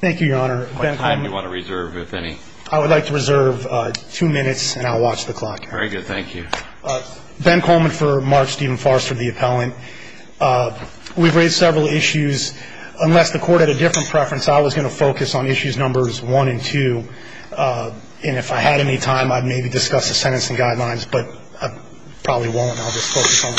Thank you, Your Honor. I would like to reserve two minutes and I'll watch the clock. Very good. Thank you. Ben Coleman for Mark Stephen Forrester, the appellant. We've raised several issues. Unless the court had a different preference, I was going to focus on issues numbers 1 and 2. And if I had any time, I'd maybe discuss the sentencing guidelines, but I probably won't. I'll just focus on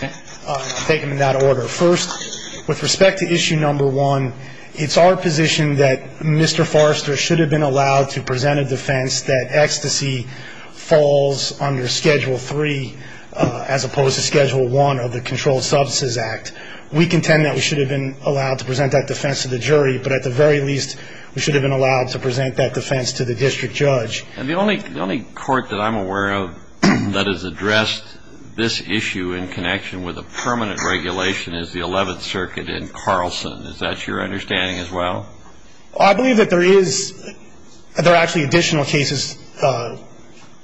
1 and 2. I'll take them in that order. First, with respect to issue number 1, it's our position that Mr. Forrester should have been allowed to present a defense that ecstasy falls under Schedule 3 as opposed to Schedule 1 of the Controlled Substances Act. We contend that we should have been allowed to present that defense to the jury, but at the very least we should have been allowed to present that defense to the district judge. And the only court that I'm aware of that has addressed this issue in connection with a permanent regulation is the Eleventh Circuit in Carlson. Is that your understanding as well? I believe that there is – there are actually additional cases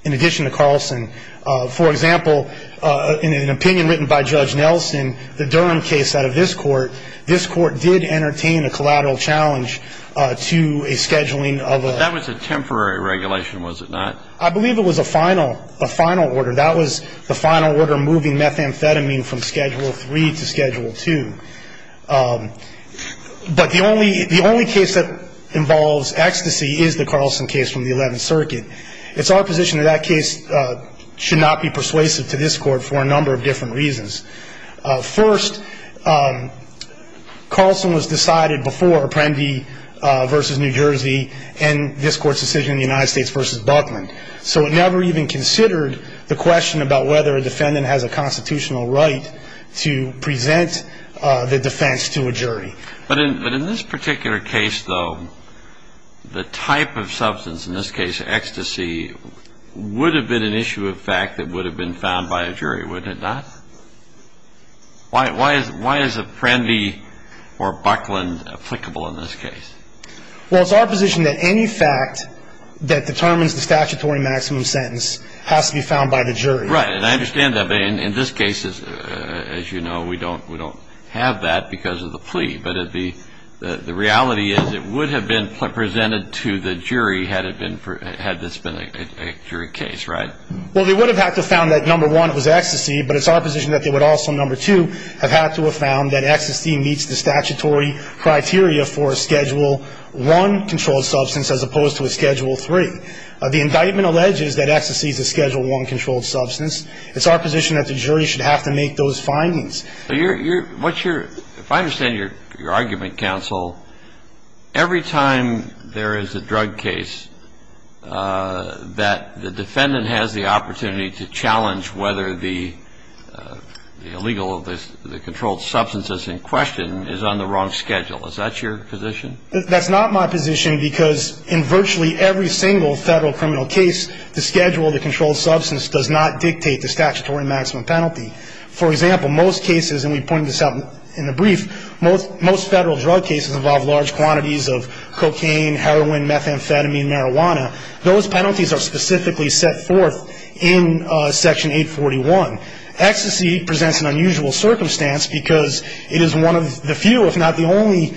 in addition to Carlson. For example, in an opinion written by Judge Nelson, the Durham case out of this court, this court did entertain a collateral challenge to a scheduling of a – That was a temporary regulation, was it not? I believe it was a final order. That was the final order moving methamphetamine from Schedule 3 to Schedule 2. But the only case that involves ecstasy is the Carlson case from the Eleventh Circuit. It's our position that that case should not be persuasive to this court for a number of different reasons. First, Carlson was decided before Apprendi v. New Jersey and this court's decision in the United States v. Buckland. So it never even considered the question about whether a defendant has a constitutional right to present the defense to a jury. But in this particular case, though, the type of substance, in this case ecstasy, would have been an issue of fact that would have been found by a jury, wouldn't it not? Why is Apprendi or Buckland applicable in this case? Well, it's our position that any fact that determines the statutory maximum sentence has to be found by the jury. Right, and I understand that. But in this case, as you know, we don't have that because of the plea. But the reality is it would have been presented to the jury had this been a jury case, right? Well, they would have had to have found that, number one, it was ecstasy. But it's our position that they would also, number two, have had to have found that ecstasy meets the statutory criteria for a Schedule 1 controlled substance as opposed to a Schedule 3. The indictment alleges that ecstasy is a Schedule 1 controlled substance. It's our position that the jury should have to make those findings. But you're, what's your, if I understand your argument, counsel, every time there is a drug case that the defendant has the opportunity to challenge whether the illegal, the controlled substance that's in question is on the wrong schedule. Is that your position? That's not my position because in virtually every single Federal criminal case, the schedule of the controlled substance does not dictate the statutory maximum penalty. For example, most cases, and we pointed this out in the brief, most Federal drug cases involve large quantities of cocaine, heroin, methamphetamine, marijuana. Those penalties are specifically set forth in Section 841. Ecstasy presents an unusual circumstance because it is one of the few, if not the only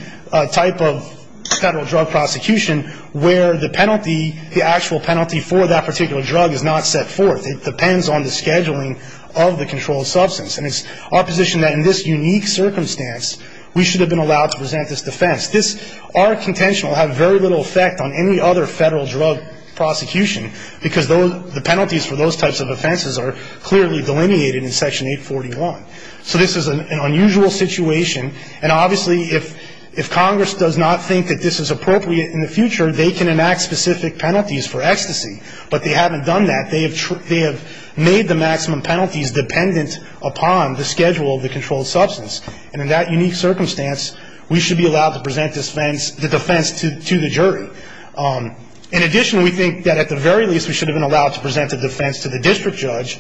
type of Federal drug prosecution where the penalty, the actual penalty for that particular drug is not set forth. It depends on the scheduling of the controlled substance. And it's our position that in this unique circumstance, we should have been allowed to present this defense. This, our contention will have very little effect on any other Federal drug prosecution because the penalties for those types of offenses are clearly delineated in Section 841. So this is an unusual situation. And obviously, if Congress does not think that this is appropriate in the future, they can enact specific penalties for ecstasy. But they haven't done that. They have made the maximum penalties dependent upon the schedule of the controlled substance. And in that unique circumstance, we should be allowed to present the defense to the jury. In addition, we think that at the very least, we should have been allowed to present the defense to the district judge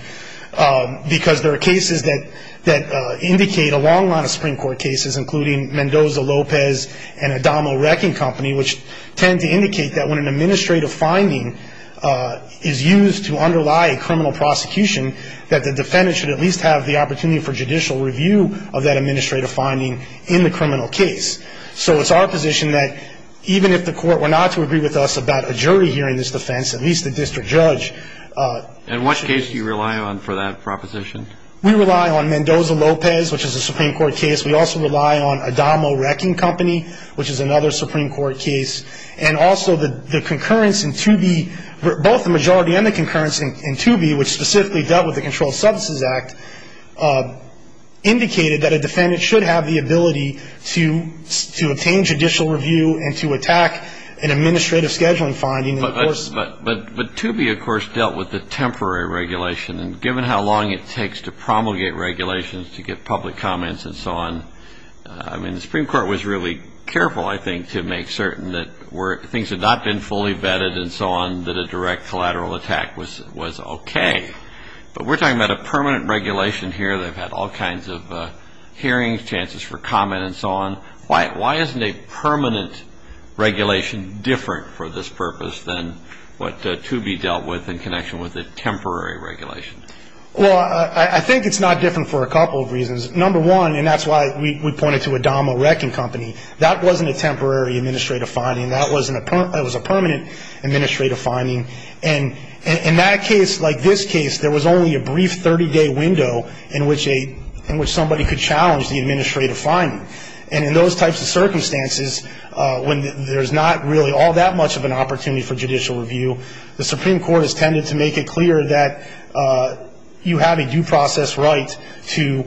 because there are cases that indicate a long line of Supreme Court cases, including Mendoza, Lopez, and Adamo Wrecking Company, which tend to indicate that when an administrative finding is used to underlie a criminal prosecution, that the defendant should at least have the opportunity for judicial review of that administrative finding in the criminal case. So it's our position that even if the Court were not to agree with us about a jury hearing this defense, at least the district judge. And what case do you rely on for that proposition? We rely on Mendoza, Lopez, which is a Supreme Court case. We also rely on Adamo Wrecking Company, which is another Supreme Court case. And also the concurrence in 2B, both the majority and the concurrence in 2B, which specifically dealt with the Controlled Substances Act, indicated that a defendant should have the ability to obtain judicial review and to attack an administrative scheduling finding. But 2B, of course, dealt with the temporary regulation. And given how long it takes to promulgate regulations to get public comments and so on, I mean, the Supreme Court was really careful, I think, to make certain that things had not been fully vetted and so on, that a direct collateral attack was okay. But we're talking about a permanent regulation here. They've had all kinds of hearings, chances for comment and so on. Why isn't a permanent regulation different for this purpose than what 2B dealt with in connection with the temporary regulation? Well, I think it's not different for a couple of reasons. Number one, and that's why we pointed to Adamo Wrecking Company, that wasn't a temporary administrative finding. That was a permanent administrative finding. And in that case, like this case, there was only a brief 30-day window in which somebody could challenge the administrative finding. And in those types of circumstances, when there's not really all that much of an opportunity for judicial review, the Supreme Court has tended to make it clear that you have a due process right to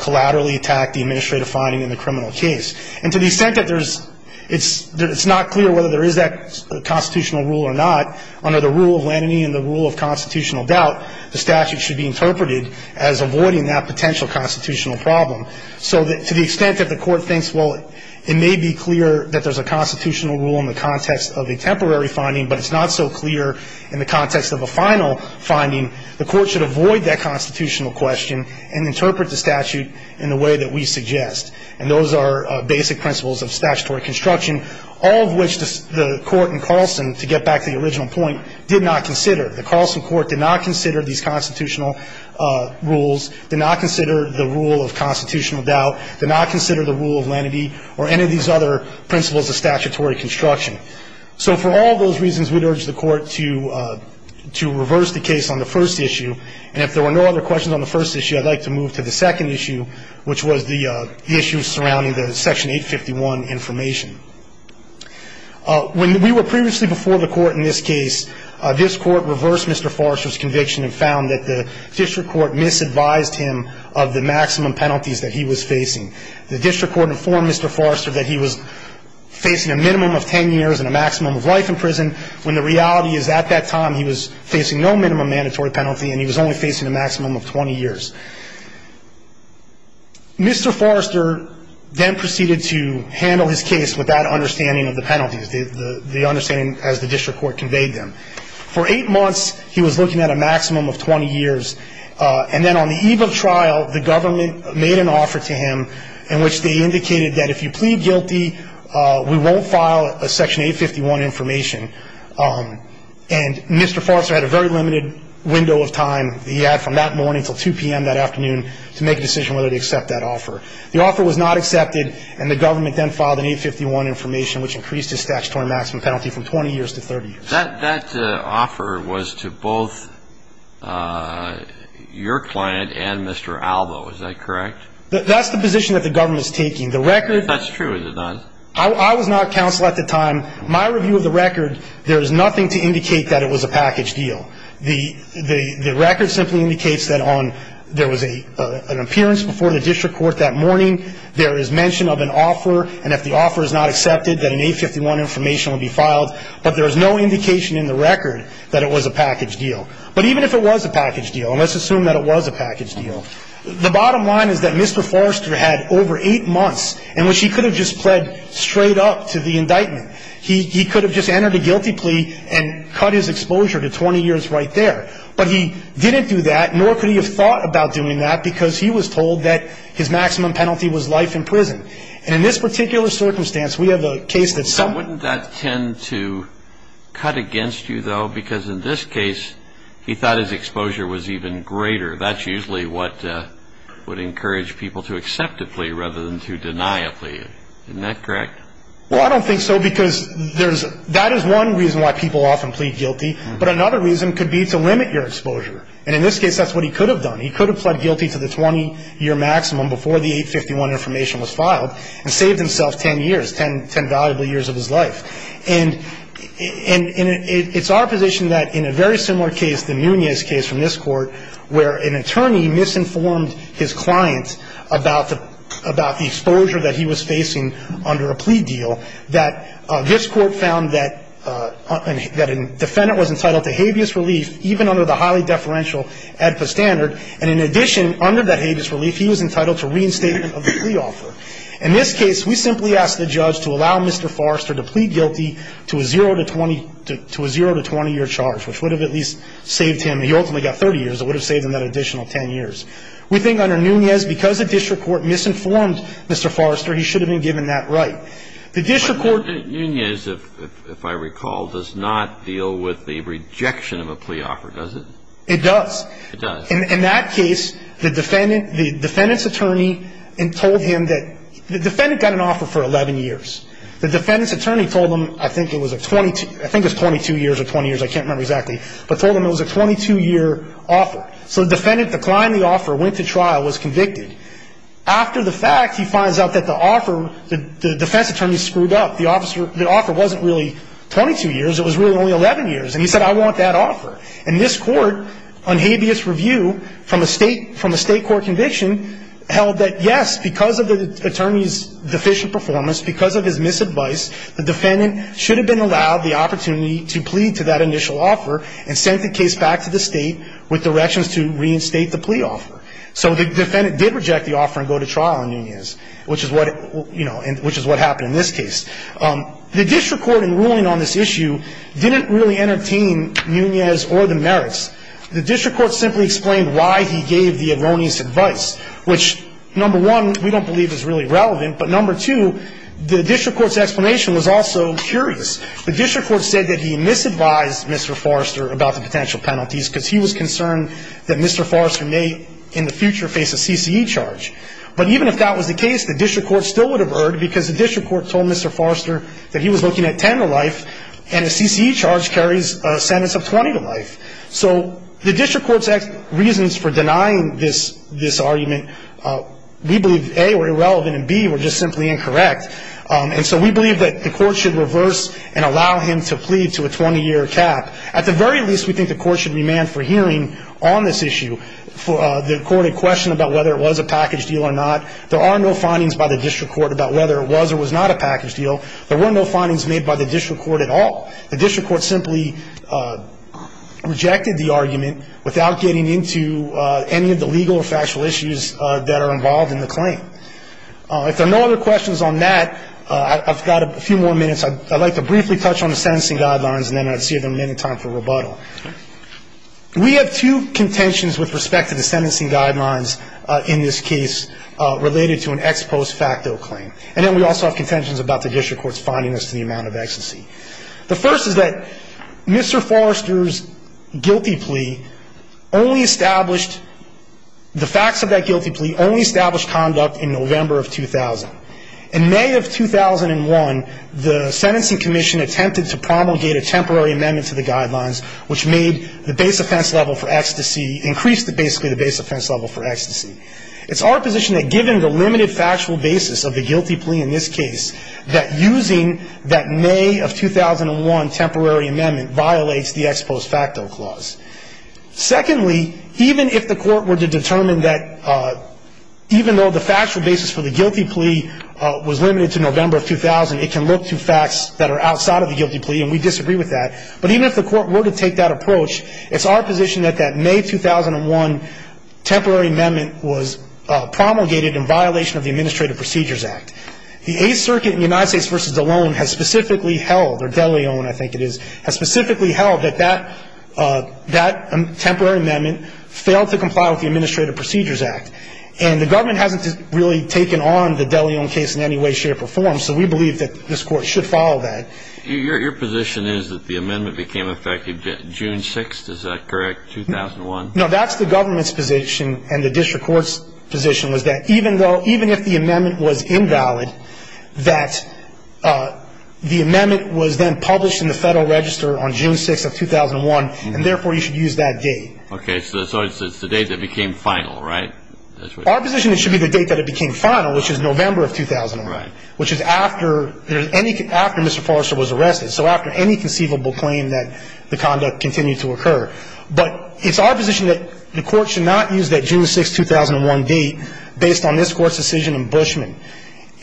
collaterally attack the administrative finding in the criminal case. And to the extent that there's – it's not clear whether there is that constitutional rule or not, under the rule of Lenany and the rule of constitutional doubt, the statute should be interpreted as avoiding that potential constitutional problem. So to the extent that the court thinks, well, it may be clear that there's a constitutional rule in the context of a temporary finding, but it's not so clear in the context of a final finding, the court should avoid that constitutional question and interpret the statute in the way that we suggest. And those are basic principles of statutory construction, all of which the court in Carlson, to get back to the original point, did not consider. The Carlson court did not consider these constitutional rules, did not consider the rule of constitutional doubt, did not consider the rule of Lenany or any of these other principles of statutory construction. So for all those reasons, we'd urge the court to reverse the case on the first issue. And if there were no other questions on the first issue, I'd like to move to the second issue, which was the issue surrounding the Section 851 information. When we were previously before the court in this case, this Court reversed Mr. Forrester's conviction and found that the district court misadvised him of the maximum penalties that he was facing. The district court informed Mr. Forrester that he was facing a minimum of 10 years and a maximum of life in prison, when the reality is at that time, he was facing no minimum mandatory penalty and he was only facing a maximum of 20 years. Mr. Forrester then proceeded to handle his case with that understanding of the penalties, the understanding as the district court conveyed them. For eight months, he was looking at a maximum of 20 years. And then on the eve of trial, the government made an offer to him in which they indicated that if you plead guilty, we won't file a Section 851 information. And Mr. Forrester had a very limited window of time that he had from that morning until 2 p.m. that afternoon to make a decision whether to accept that offer. The offer was not accepted and the government then filed an 851 information which increased his statutory maximum penalty from 20 years to 30 years. That offer was to both your client and Mr. Albo, is that correct? That's the position that the government is taking. That's true, is it not? I was not counsel at the time. My review of the record, there is nothing to indicate that it was a package deal. The record simply indicates that there was an appearance before the district court that morning. There is mention of an offer, and if the offer is not accepted, then an 851 information will be filed. But there is no indication in the record that it was a package deal. But even if it was a package deal, and let's assume that it was a package deal, the bottom line is that Mr. Forrester had over eight months in which he could have just pled straight up to the indictment. He could have just entered a guilty plea and cut his exposure to 20 years right there. But he didn't do that, nor could he have thought about doing that, because he was told that his maximum penalty was life in prison. And in this particular circumstance, we have a case that some... Wouldn't that tend to cut against you, though? Because in this case, he thought his exposure was even greater. That's usually what would encourage people to accept a plea rather than to deny a plea. Isn't that correct? Well, I don't think so, because that is one reason why people often plead guilty. But another reason could be to limit your exposure. And in this case, that's what he could have done. He could have pled guilty to the 20-year maximum before the 851 information was filed and saved himself 10 years, 10 valuable years of his life. And it's our position that in a very similar case, the Munoz case from this court, where an attorney misinformed his client about the exposure that he was facing under a plea deal, that this court found that a defendant was entitled to habeas relief even under the highly deferential AEDPA standard. And in addition, under that habeas relief, he was entitled to reinstatement of the plea offer. In this case, we simply asked the judge to allow Mr. Forrester to plead guilty to a zero to 20-year charge, which would have at least saved him. He ultimately got 30 years. It would have saved him that additional 10 years. We think under Munoz, because the district court misinformed Mr. Forrester, he should have been given that right. The district court ---- But Munoz, if I recall, does not deal with the rejection of a plea offer, does it? It does. It does. In that case, the defendant's attorney told him that the defendant got an offer for 11 years. The defendant's attorney told him, I think it was 22 years or 20 years, I can't remember exactly, but told him it was a 22-year offer. So the defendant declined the offer, went to trial, was convicted. After the fact, he finds out that the offer, the defense attorney screwed up. The offer wasn't really 22 years. It was really only 11 years. And he said, I want that offer. And this court, on habeas review from a state court conviction, held that, yes, because of the attorney's deficient performance, because of his misadvice, the defendant should have been allowed the opportunity to plead to that initial offer and sent the case back to the state with directions to reinstate the plea offer. So the defendant did reject the offer and go to trial on Nunez, which is what, you know, which is what happened in this case. The district court in ruling on this issue didn't really entertain Nunez or the merits. The district court simply explained why he gave the erroneous advice, which, number one, we don't believe is really relevant, but number two, the district court's explanation was also curious. The district court said that he misadvised Mr. Forrester about the potential in the future face a CCE charge. But even if that was the case, the district court still would have erred because the district court told Mr. Forrester that he was looking at 10 to life and a CCE charge carries a sentence of 20 to life. So the district court's reasons for denying this argument, we believe, A, were irrelevant and, B, were just simply incorrect. And so we believe that the court should reverse and allow him to plead to a 20-year cap. At the very least, we think the court should remand for hearing on this issue. The court had questioned about whether it was a package deal or not. There are no findings by the district court about whether it was or was not a package deal. There were no findings made by the district court at all. The district court simply rejected the argument without getting into any of the legal or factual issues that are involved in the claim. If there are no other questions on that, I've got a few more minutes. I'd like to briefly touch on the sentencing guidelines and then I'd see if there's any time for rebuttal. We have two contentions with respect to the sentencing guidelines in this case related to an ex post facto claim. And then we also have contentions about the district court's finding as to the amount of ecstasy. The first is that Mr. Forrester's guilty plea only established the facts of that guilty plea only established conduct in November of 2000. In May of 2001, the sentencing commission attempted to promulgate a temporary amendment to the guidelines which made the base offense level for ecstasy, increased basically the base offense level for ecstasy. It's our position that given the limited factual basis of the guilty plea in this case, that using that May of 2001 temporary amendment violates the ex post facto clause. Secondly, even if the court were to determine that even though the factual basis for the guilty plea was limited to November of 2000, it can look to facts that are outside of the guilty plea and we disagree with that. But even if the court were to take that approach, it's our position that that May 2001 temporary amendment was promulgated in violation of the Administrative Procedures Act. The Eighth Circuit in the United States versus Delon has specifically held, or Deleon, I think it is, has specifically held that that temporary amendment failed to comply with the Administrative Procedures Act. And the government hasn't really taken on the Deleon case in any way, shape, or form, so we believe that this court should follow that. Your position is that the amendment became effective June 6th, is that correct, 2001? No, that's the government's position and the district court's position, was that even if the amendment was invalid, that the amendment was then published in the Federal Register on June 6th of 2001, and therefore you should use that date. Okay, so it's the date that became final, right? Our position is it should be the date that it became final, which is November of 2001, which is after Mr. Forrester was arrested. So after any conceivable claim that the conduct continued to occur. But it's our position that the court should not use that June 6th, 2001 date based on this Court's decision in Bushman.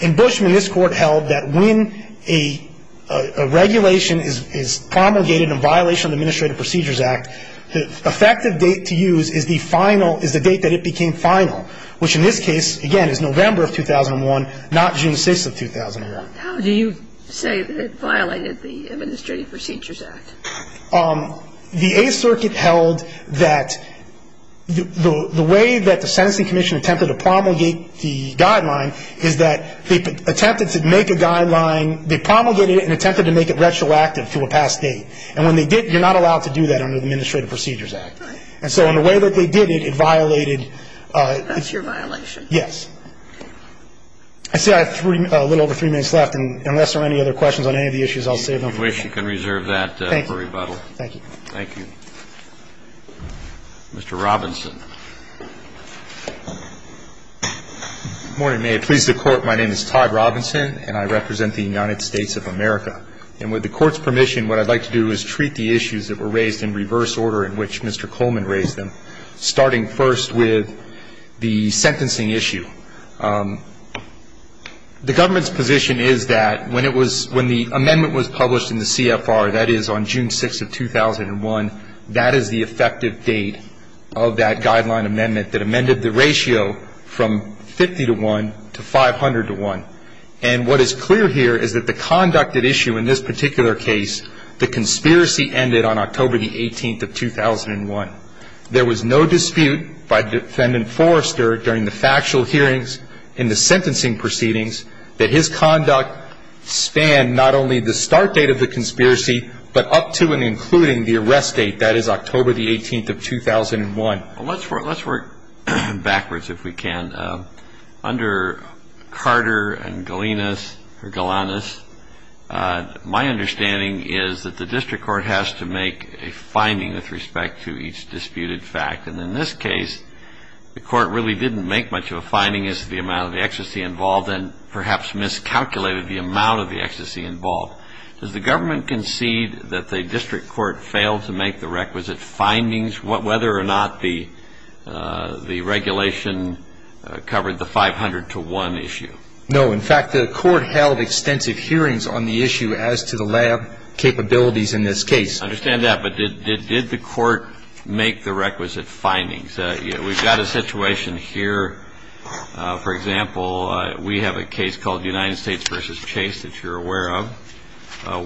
In Bushman, this Court held that when a regulation is promulgated in violation of the Administrative Procedures Act, the effective date to use is the final, is the date that it became final, which in this case, again, is November of 2001, not June 6th of 2001. How do you say that it violated the Administrative Procedures Act? The Eighth Circuit held that the way that the sentencing commission attempted to promulgate the guideline is that they attempted to make a guideline, they promulgated it and attempted to make it retroactive to a past date. And when they did, you're not allowed to do that under the Administrative Procedures Act. And so in the way that they did it, it violated. That's your violation? Yes. I see I have a little over three minutes left. And unless there are any other questions on any of the issues, I'll save them for later. If you wish, you can reserve that for rebuttal. Thank you. Thank you. Mr. Robinson. Good morning. May it please the Court, my name is Todd Robinson, and I represent the United States of America. And with the Court's permission, what I'd like to do is treat the issues that were raised in the CFR. And I'm going to start with the one that was raised by Mr. Coleman, starting first with the sentencing issue. The government's position is that when it was, when the amendment was published in the CFR, that is on June 6th of 2001, that is the effective date of that guideline amendment that amended the ratio from 50 to 1 to 500 to 1. And what is clear here is that the conducted issue in this particular case, the conspiracy ended on October the 18th of 2001. There was no dispute by Defendant Forrester during the factual hearings and the sentencing proceedings that his conduct spanned not only the start date of the conspiracy but up to and including the arrest date, that is October the 18th of 2001. Let's work backwards if we can. Under Carter and Galinas, or Galanis, my understanding is that the district court has to make a finding with respect to each disputed fact. And in this case, the court really didn't make much of a finding as to the amount of the ecstasy involved and perhaps miscalculated the amount of the ecstasy involved. Does the government concede that the district court failed to make the requisite findings, whether or not the regulation covered the 500 to 1 issue? No. In fact, the court held extensive hearings on the issue as to the lab capabilities in this case. I understand that. But did the court make the requisite findings? We've got a situation here, for example, we have a case called United States v. Chase that you're aware of,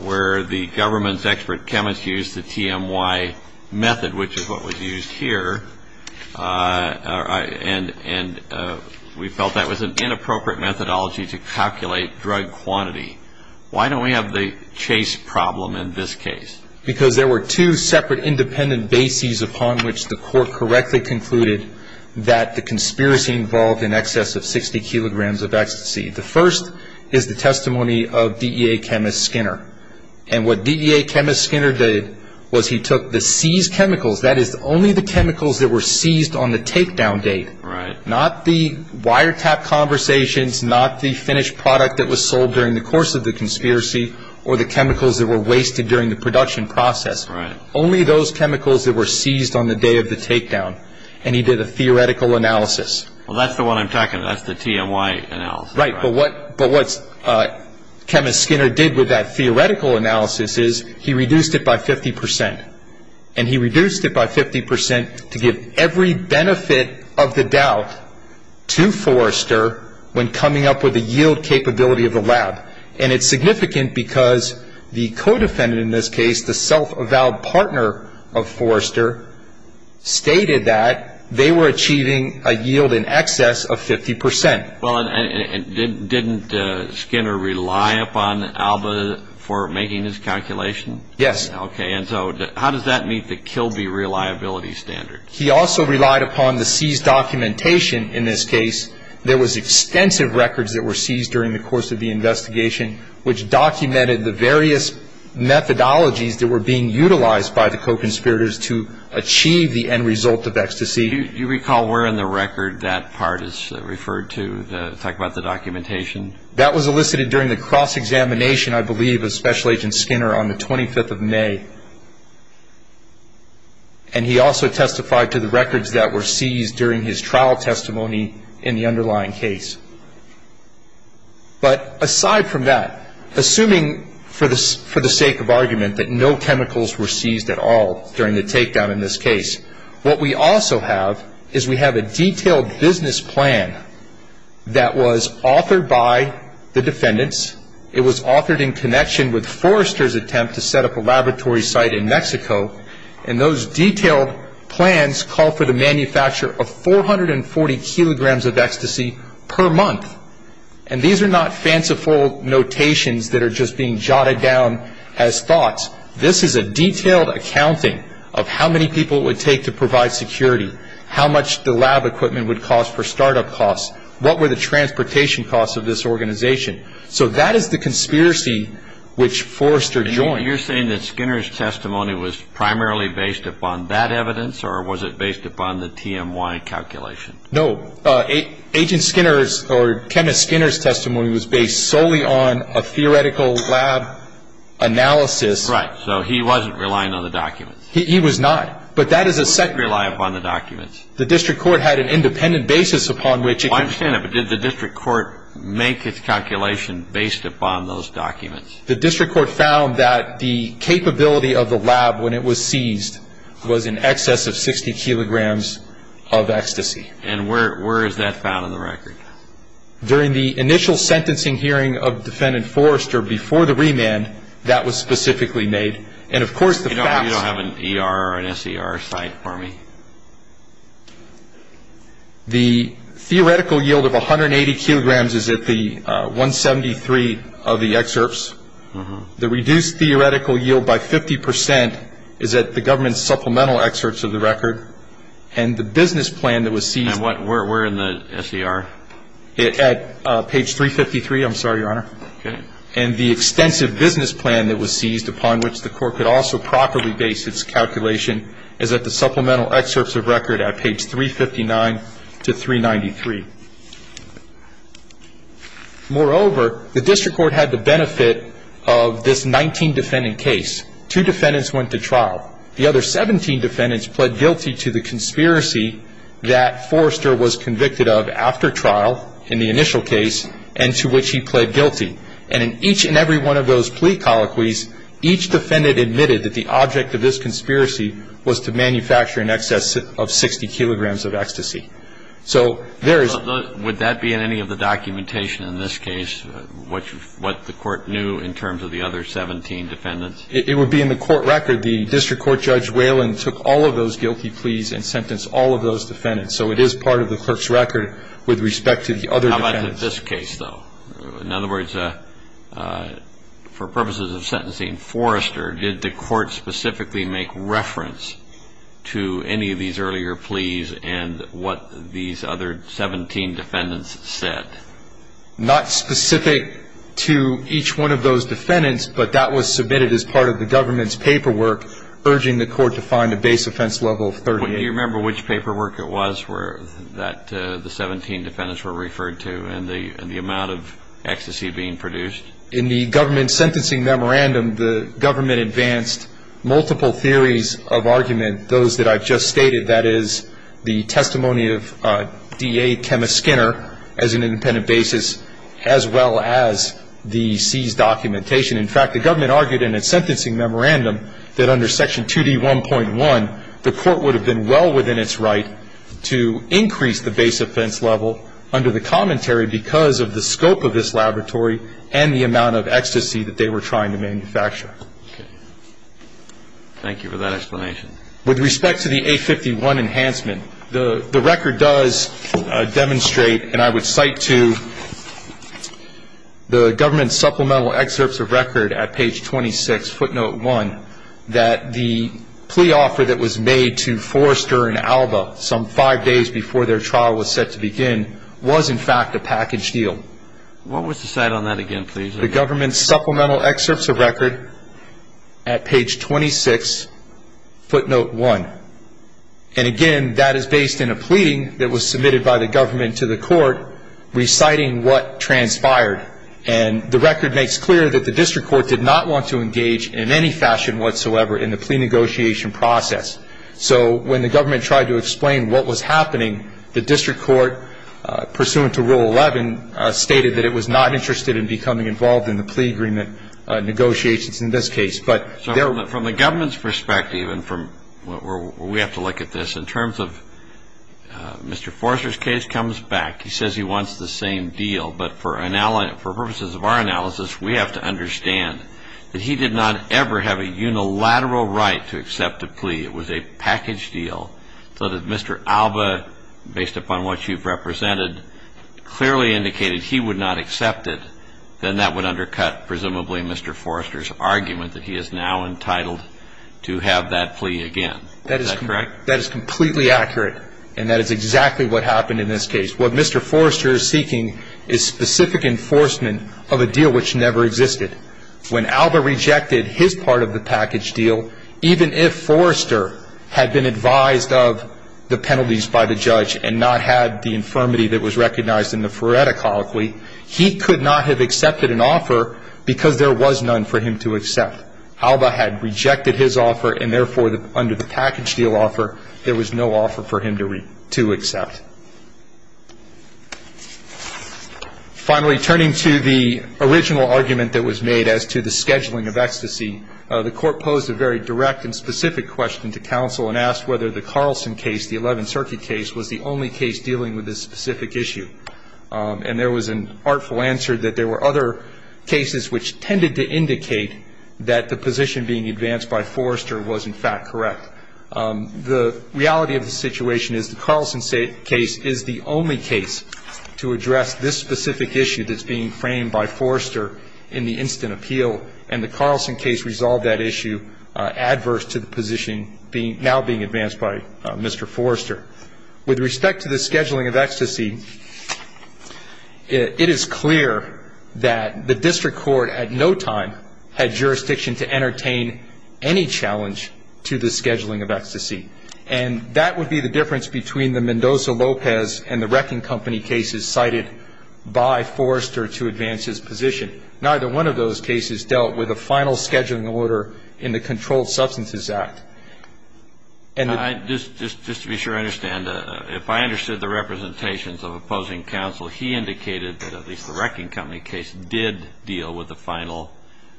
where the government's expert chemist used the TMY method, which is what was used here. And we felt that was an inappropriate methodology to calculate drug quantity. Why don't we have the Chase problem in this case? Because there were two separate independent bases upon which the court correctly concluded that the conspiracy involved in excess of 60 kilograms of ecstasy. The first is the testimony of DEA chemist Skinner. And what DEA chemist Skinner did was he took the seized chemicals, that is only the chemicals that were seized on the takedown date, not the wiretap conversations, not the finished product that was sold during the course of the conspiracy, or the chemicals that were wasted during the production process, only those chemicals that were seized on the day of the takedown. And he did a theoretical analysis. Well, that's the one I'm talking about, that's the TMY analysis. Right, but what chemist Skinner did with that theoretical analysis is he reduced it by 50%. And he reduced it by 50% to give every benefit of the doubt to Forrester when coming up with the yield capability of the lab. And it's significant because the co-defendant in this case, the self-avowed partner of Forrester, stated that they were achieving a yield in excess of 50%. Well, and didn't Skinner rely upon ALBA for making this calculation? Yes. Okay, and so how does that meet the Kilby reliability standard? He also relied upon the seized documentation in this case. There was extensive records that were seized during the course of the investigation which documented the various methodologies that were being utilized by the co-conspirators to achieve the end result of ecstasy. Do you recall where in the record that part is referred to to talk about the documentation? That was elicited during the cross-examination, I believe, of Special Agent Skinner on the 25th of May. And he also testified to the records that were seized during his trial testimony in the underlying case. But aside from that, assuming for the sake of argument that no chemicals were seized at all during the takedown in this case, what we also have is we have a detailed business plan that was authored by the defendants. It was authored in connection with Forrester's attempt to set up a laboratory site in Mexico. And those detailed plans call for the manufacture of 440 kilograms of ecstasy per month. And these are not fanciful notations that are just being jotted down as thoughts. This is a detailed accounting of how many people it would take to provide security, how much the lab equipment would cost for startup costs, what were the transportation costs of this organization. So that is the conspiracy which Forrester joined. Now, you're saying that Skinner's testimony was primarily based upon that evidence, or was it based upon the TMY calculation? No. Agent Skinner's or Kenneth Skinner's testimony was based solely on a theoretical lab analysis. Right. So he wasn't relying on the documents. He was not. But that is a second. He didn't rely upon the documents. The district court had an independent basis upon which it could. I understand that. But did the district court make its calculation based upon those documents? The district court found that the capability of the lab when it was seized was in excess of 60 kilograms of ecstasy. And where is that found in the record? During the initial sentencing hearing of Defendant Forrester before the remand, that was specifically made. And, of course, the facts. You don't have an ER or an SER site for me? The theoretical yield of 180 kilograms is at the 173 of the excerpts. The reduced theoretical yield by 50 percent is at the government supplemental excerpts of the record. And the business plan that was seized. And where in the SER? At page 353. I'm sorry, Your Honor. Okay. And the extensive business plan that was seized, upon which the court could also properly base its calculation, is at the supplemental excerpts of record at page 359 to 393. Moreover, the district court had the benefit of this 19 defendant case. Two defendants went to trial. The other 17 defendants pled guilty to the conspiracy that Forrester was convicted of after trial in the initial case, and to which he pled guilty. And in each and every one of those plea colloquies, each defendant admitted that the object of this conspiracy was to manufacture in excess of 60 kilograms of ecstasy. So there is – Would that be in any of the documentation in this case, what the court knew in terms of the other 17 defendants? It would be in the court record. The district court Judge Whalen took all of those guilty pleas and sentenced all of those defendants. So it is part of the clerk's record with respect to the other defendants. How about in this case, though? In other words, for purposes of sentencing Forrester, did the court specifically make reference to any of these earlier pleas and what these other 17 defendants said? Not specific to each one of those defendants, but that was submitted as part of the government's paperwork urging the court to find a base offense level of 38. Do you remember which paperwork it was that the 17 defendants were referred to and the amount of ecstasy being produced? In the government sentencing memorandum, the government advanced multiple theories of argument. Those that I've just stated, that is, the testimony of D.A. Chemist Skinner as an independent basis, as well as the seized documentation. In fact, the government argued in its sentencing memorandum that under Section 2D1.1, the court would have been well within its right to increase the base offense level under the commentary because of the scope of this laboratory and the amount of ecstasy that they were trying to manufacture. Thank you for that explanation. With respect to the A51 enhancement, the record does demonstrate, and I would cite to the government's supplemental excerpts of record at page 26, footnote 1, that the plea offer that was made to Forrester and Alba some five days before their trial was set to begin was in fact a package deal. What was the cite on that again, please? The government's supplemental excerpts of record at page 26, footnote 1. And again, that is based in a pleading that was submitted by the government to the court reciting what transpired. And the record makes clear that the district court did not want to engage in any fashion whatsoever in the plea negotiation process. So when the government tried to explain what was happening, the district court, pursuant to Rule 11, stated that it was not interested in becoming involved in the plea agreement negotiations in this case. So from the government's perspective and from where we have to look at this, in terms of Mr. Forrester's case comes back. He says he wants the same deal, but for purposes of our analysis, we have to understand that he did not ever have a unilateral right to accept a plea. It was a package deal. So that if Mr. Alba, based upon what you've represented, clearly indicated he would not accept it, then that would undercut presumably Mr. Forrester's argument that he is now entitled to have that plea again. Is that correct? That is completely accurate, and that is exactly what happened in this case. What Mr. Forrester is seeking is specific enforcement of a deal which never existed. When Alba rejected his part of the package deal, even if Forrester had been advised of the penalties by the judge and not had the infirmity that was recognized in the FRERETA colloquy, he could not have accepted an offer because there was none for him to accept. Alba had rejected his offer, and therefore, under the package deal offer, there was no offer for him to accept. Finally, turning to the original argument that was made as to the scheduling of ecstasy, the Court posed a very direct and specific question to counsel and asked whether the Carlson case, the 11th Circuit case, was the only case dealing with this specific issue. And there was an artful answer that there were other cases which tended to indicate that the position being advanced by Forrester was, in fact, correct. The reality of the situation is the Carlson case is the only case to address this specific issue that's being framed by Forrester in the instant appeal, and the Carlson case resolved that issue adverse to the position now being advanced by Mr. Forrester. With respect to the scheduling of ecstasy, it is clear that the district court at no time had jurisdiction to entertain any challenge to the scheduling of ecstasy. And that would be the difference between the Mendoza-Lopez and the Reckin Company cases cited by Forrester to advance his position. Neither one of those cases dealt with a final scheduling order in the Controlled Substances Act. Just to be sure I understand, if I understood the representations of opposing counsel, he indicated that at least the Reckin Company case did deal with the final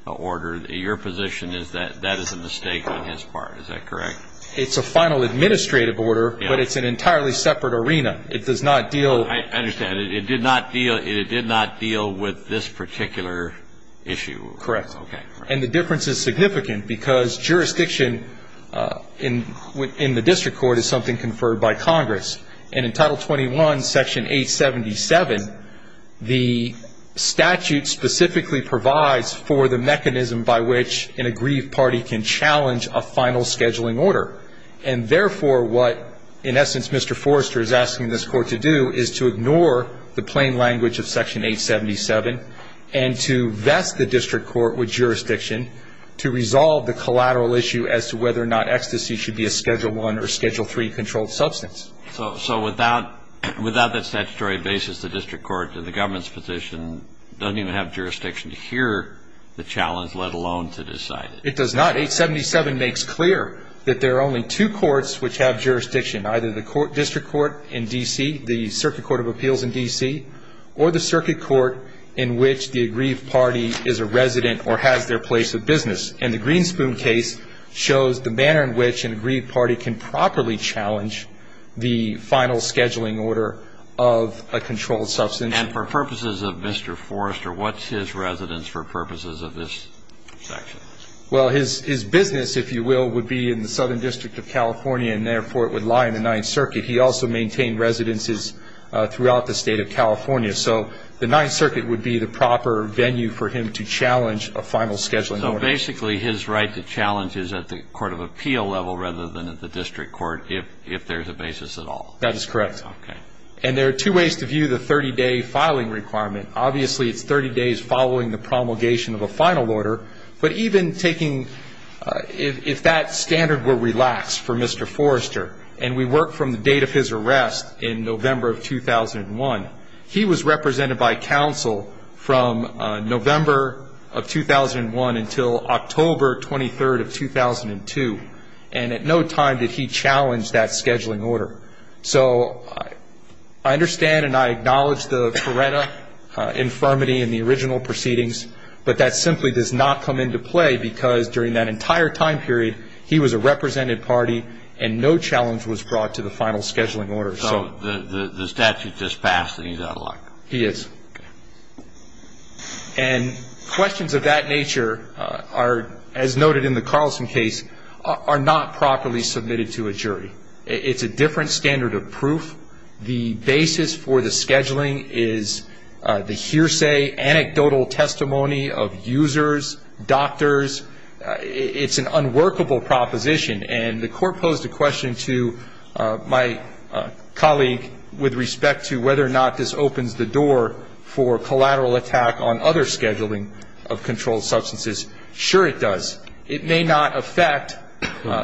order. Your position is that that is a mistake on his part. Is that correct? It's a final administrative order, but it's an entirely separate arena. It does not deal. I understand. It did not deal with this particular issue. Correct. And the difference is significant because jurisdiction in the district court is something conferred by Congress. And in Title 21, Section 877, the statute specifically provides for the mechanism by which an aggrieved party can challenge a final scheduling order. And therefore what, in essence, Mr. Forrester is asking this Court to do is to ignore the plain language of Section 877 and to vest the district court with jurisdiction to resolve the collateral issue as to whether or not ecstasy should be a Schedule I or Schedule III controlled substance. So without that statutory basis, the district court in the government's position doesn't even have jurisdiction to hear the challenge, let alone to decide it. It does not. 877 makes clear that there are only two courts which have jurisdiction, either the district court in D.C., the Circuit Court of Appeals in D.C., or the circuit court in which the aggrieved party is a resident or has their place of business. And the Greenspoon case shows the manner in which an aggrieved party can properly challenge the final scheduling order of a controlled substance. And for purposes of Mr. Forrester, what's his residence for purposes of this section? Well, his business, if you will, would be in the Southern District of California, and therefore it would lie in the Ninth Circuit. He also maintained residences throughout the State of California. So the Ninth Circuit would be the proper venue for him to challenge a final scheduling order. So basically his right to challenge is at the court of appeal level rather than at the district court, if there's a basis at all. That is correct. Okay. And there are two ways to view the 30-day filing requirement. Obviously it's 30 days following the promulgation of a final order, but even taking if that standard were relaxed for Mr. Forrester, and we work from the date of his arrest in November of 2001, he was represented by counsel from November of 2001 until October 23rd of 2002, and at no time did he challenge that scheduling order. So I understand and I acknowledge the Coretta infirmity in the original proceedings, but that simply does not come into play because during that entire time period he was a represented party and no challenge was brought to the final scheduling order. So the statute just passed and he's out of luck. He is. Okay. And questions of that nature are, as noted in the Carlson case, are not properly submitted to a jury. It's a different standard of proof. The basis for the scheduling is the hearsay, anecdotal testimony of users, doctors. It's an unworkable proposition, and the court posed a question to my colleague with respect to whether or not this opens the door for collateral attack on other scheduling of controlled substances. Sure, it does. It may not affect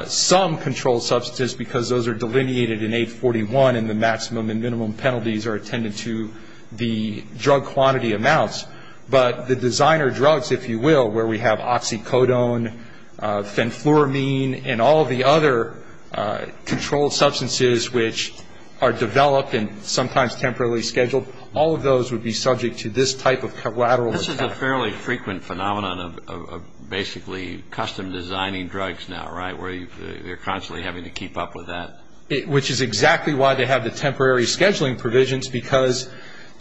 some controlled substances because those are delineated in 841 and the maximum and minimum penalties are attended to the drug quantity amounts, but the designer drugs, if you will, where we have oxycodone, fenfluramine, and all the other controlled substances which are developed and sometimes temporarily scheduled, all of those would be subject to this type of collateral attack. This is a fairly frequent phenomenon of basically custom designing drugs now, right, where you're constantly having to keep up with that. Which is exactly why they have the temporary scheduling provisions because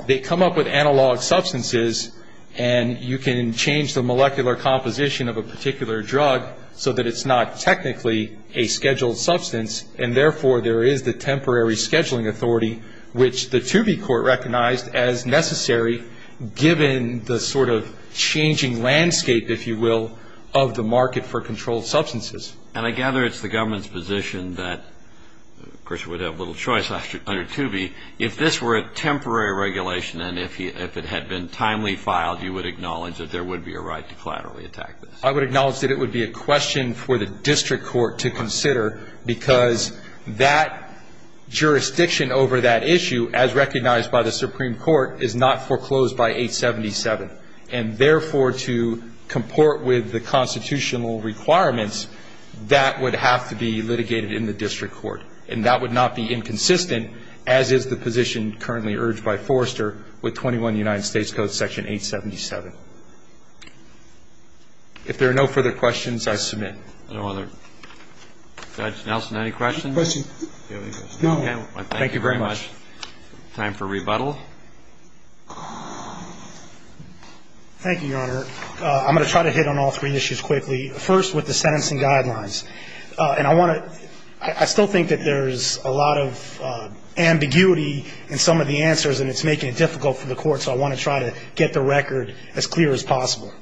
they come up with analog substances and you can change the molecular composition of a particular drug so that it's not technically a scheduled substance and, therefore, there is the temporary scheduling authority which the Toobie Court recognized as necessary given the sort of changing landscape, if you will, of the market for controlled substances. And I gather it's the government's position that, of course, we'd have little choice under Toobie, if this were a temporary regulation and if it had been timely filed, you would acknowledge that there would be a right to collaterally attack this. I would acknowledge that it would be a question for the district court to consider because that jurisdiction over that issue, as recognized by the Supreme Court, is not foreclosed by 877. And, therefore, to comport with the constitutional requirements, that would have to be litigated in the district court. And that would not be inconsistent, as is the position currently urged by Forrester with 21 United States Code, Section 877. If there are no further questions, I submit. No other. Judge Nelson, any questions? No. Thank you very much. Time for rebuttal. Thank you, Your Honor. I'm going to try to hit on all three issues quickly. First, with the sentencing guidelines. And I want to ‑‑ I still think that there's a lot of ambiguity in some of the answers, and it's making it difficult for the court, so I want to try to get the record as clear as possible.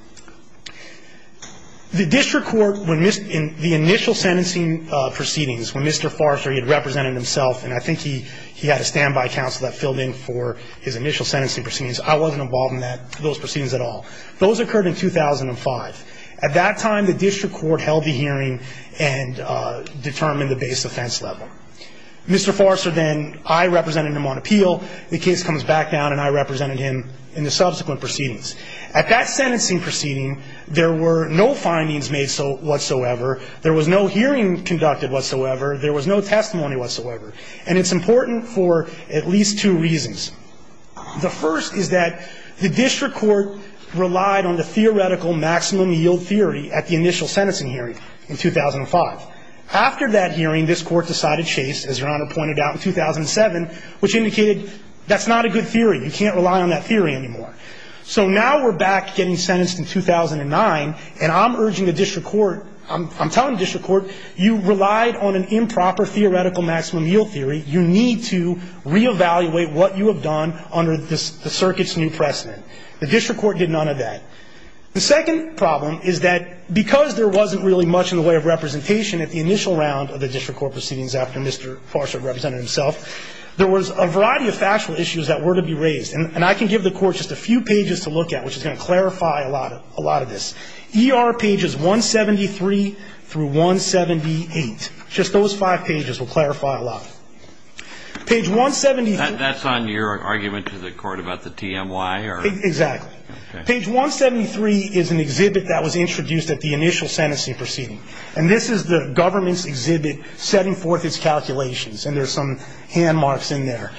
The district court, when the initial sentencing proceedings, when Mr. Forrester, he had represented himself, and I think he had a standby counsel that filled in for his initial sentencing proceedings, I wasn't involved in those proceedings at all. Those occurred in 2005. At that time, the district court held the hearing and determined the base offense level. Mr. Forrester then, I represented him on appeal. The case comes back down, and I represented him in the subsequent proceedings. At that sentencing proceeding, there were no findings made whatsoever. There was no hearing conducted whatsoever. There was no testimony whatsoever. And it's important for at least two reasons. The first is that the district court relied on the theoretical maximum yield theory at the initial sentencing hearing in 2005. After that hearing, this court decided chase, as Your Honor pointed out, in 2007, which indicated that's not a good theory. You can't rely on that theory anymore. So now we're back getting sentenced in 2009, and I'm urging the district court, I'm telling the district court, you relied on an improper theoretical maximum yield theory. You need to reevaluate what you have done under the circuit's new precedent. The district court did none of that. The second problem is that because there wasn't really much in the way of representation at the initial round of the district court proceedings after Mr. Forrester represented himself, there was a variety of factual issues that were to be raised. And I can give the court just a few pages to look at, which is going to clarify a lot of this. ER pages 173 through 178. Just those five pages will clarify a lot. Page 173. That's on your argument to the court about the TMY? Exactly. Okay. Page 173 is an exhibit that was introduced at the initial sentencing proceeding. And this is the government's exhibit setting forth its calculations. And there's some hand marks in there.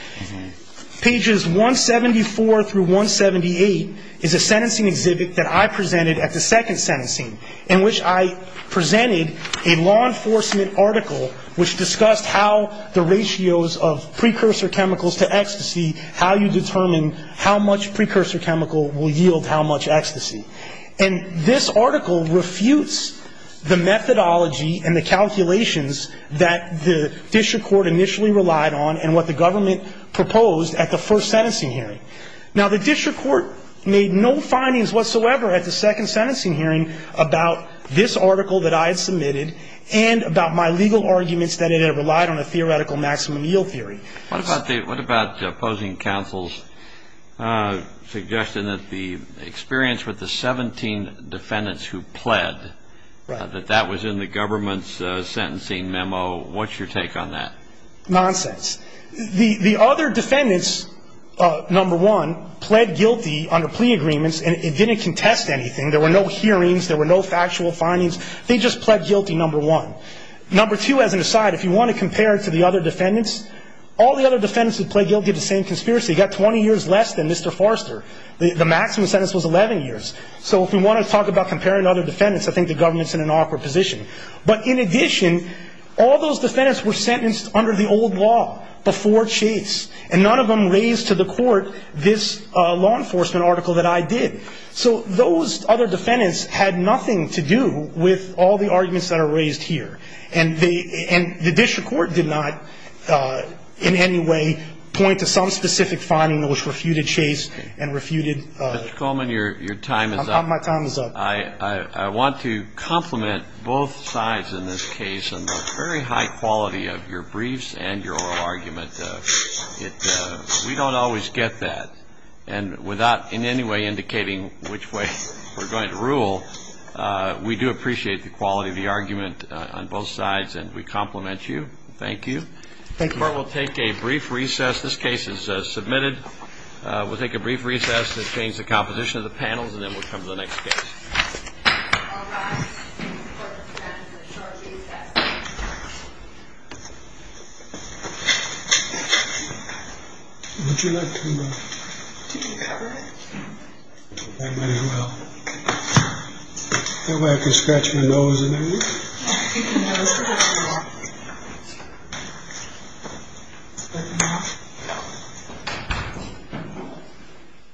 Pages 174 through 178 is a sentencing exhibit that I presented at the second sentencing in which I presented a law enforcement article which discussed how the ratios of precursor chemicals to ecstasy, how you determine how much precursor chemical will yield how much ecstasy. And this article refutes the methodology and the calculations that the district court initially relied on and what the government proposed at the first sentencing hearing. Now, the district court made no findings whatsoever at the second sentencing hearing about this article that I had submitted and about my legal arguments that it had relied on a theoretical maximum yield theory. What about opposing counsel's suggestion that the experience with the 17 defendants who pled, that that was in the government's sentencing memo, what's your take on that? Nonsense. The other defendants, number one, pled guilty under plea agreements and didn't contest anything. There were no hearings. There were no factual findings. They just pled guilty, number one. Number two, as an aside, if you want to compare it to the other defendants, all the other defendants who pled guilty to the same conspiracy got 20 years less than Mr. Forster. The maximum sentence was 11 years. So if we want to talk about comparing other defendants, I think the government's in an awkward position. But in addition, all those defendants were sentenced under the old law before Chase, and none of them raised to the court this law enforcement article that I did. So those other defendants had nothing to do with all the arguments that are raised here. And the district court did not in any way point to some specific finding which refuted Chase and refuted my time is up. I want to compliment both sides in this case on the very high quality of your briefs and your oral argument. We don't always get that. And without in any way indicating which way we're going to rule, we do appreciate the quality of the argument on both sides, and we compliment you. Thank you. Thank you. We'll take a brief recess. This case is submitted. We'll take a brief recess to change the composition of the panels, and then we'll come to the next case. Thank you.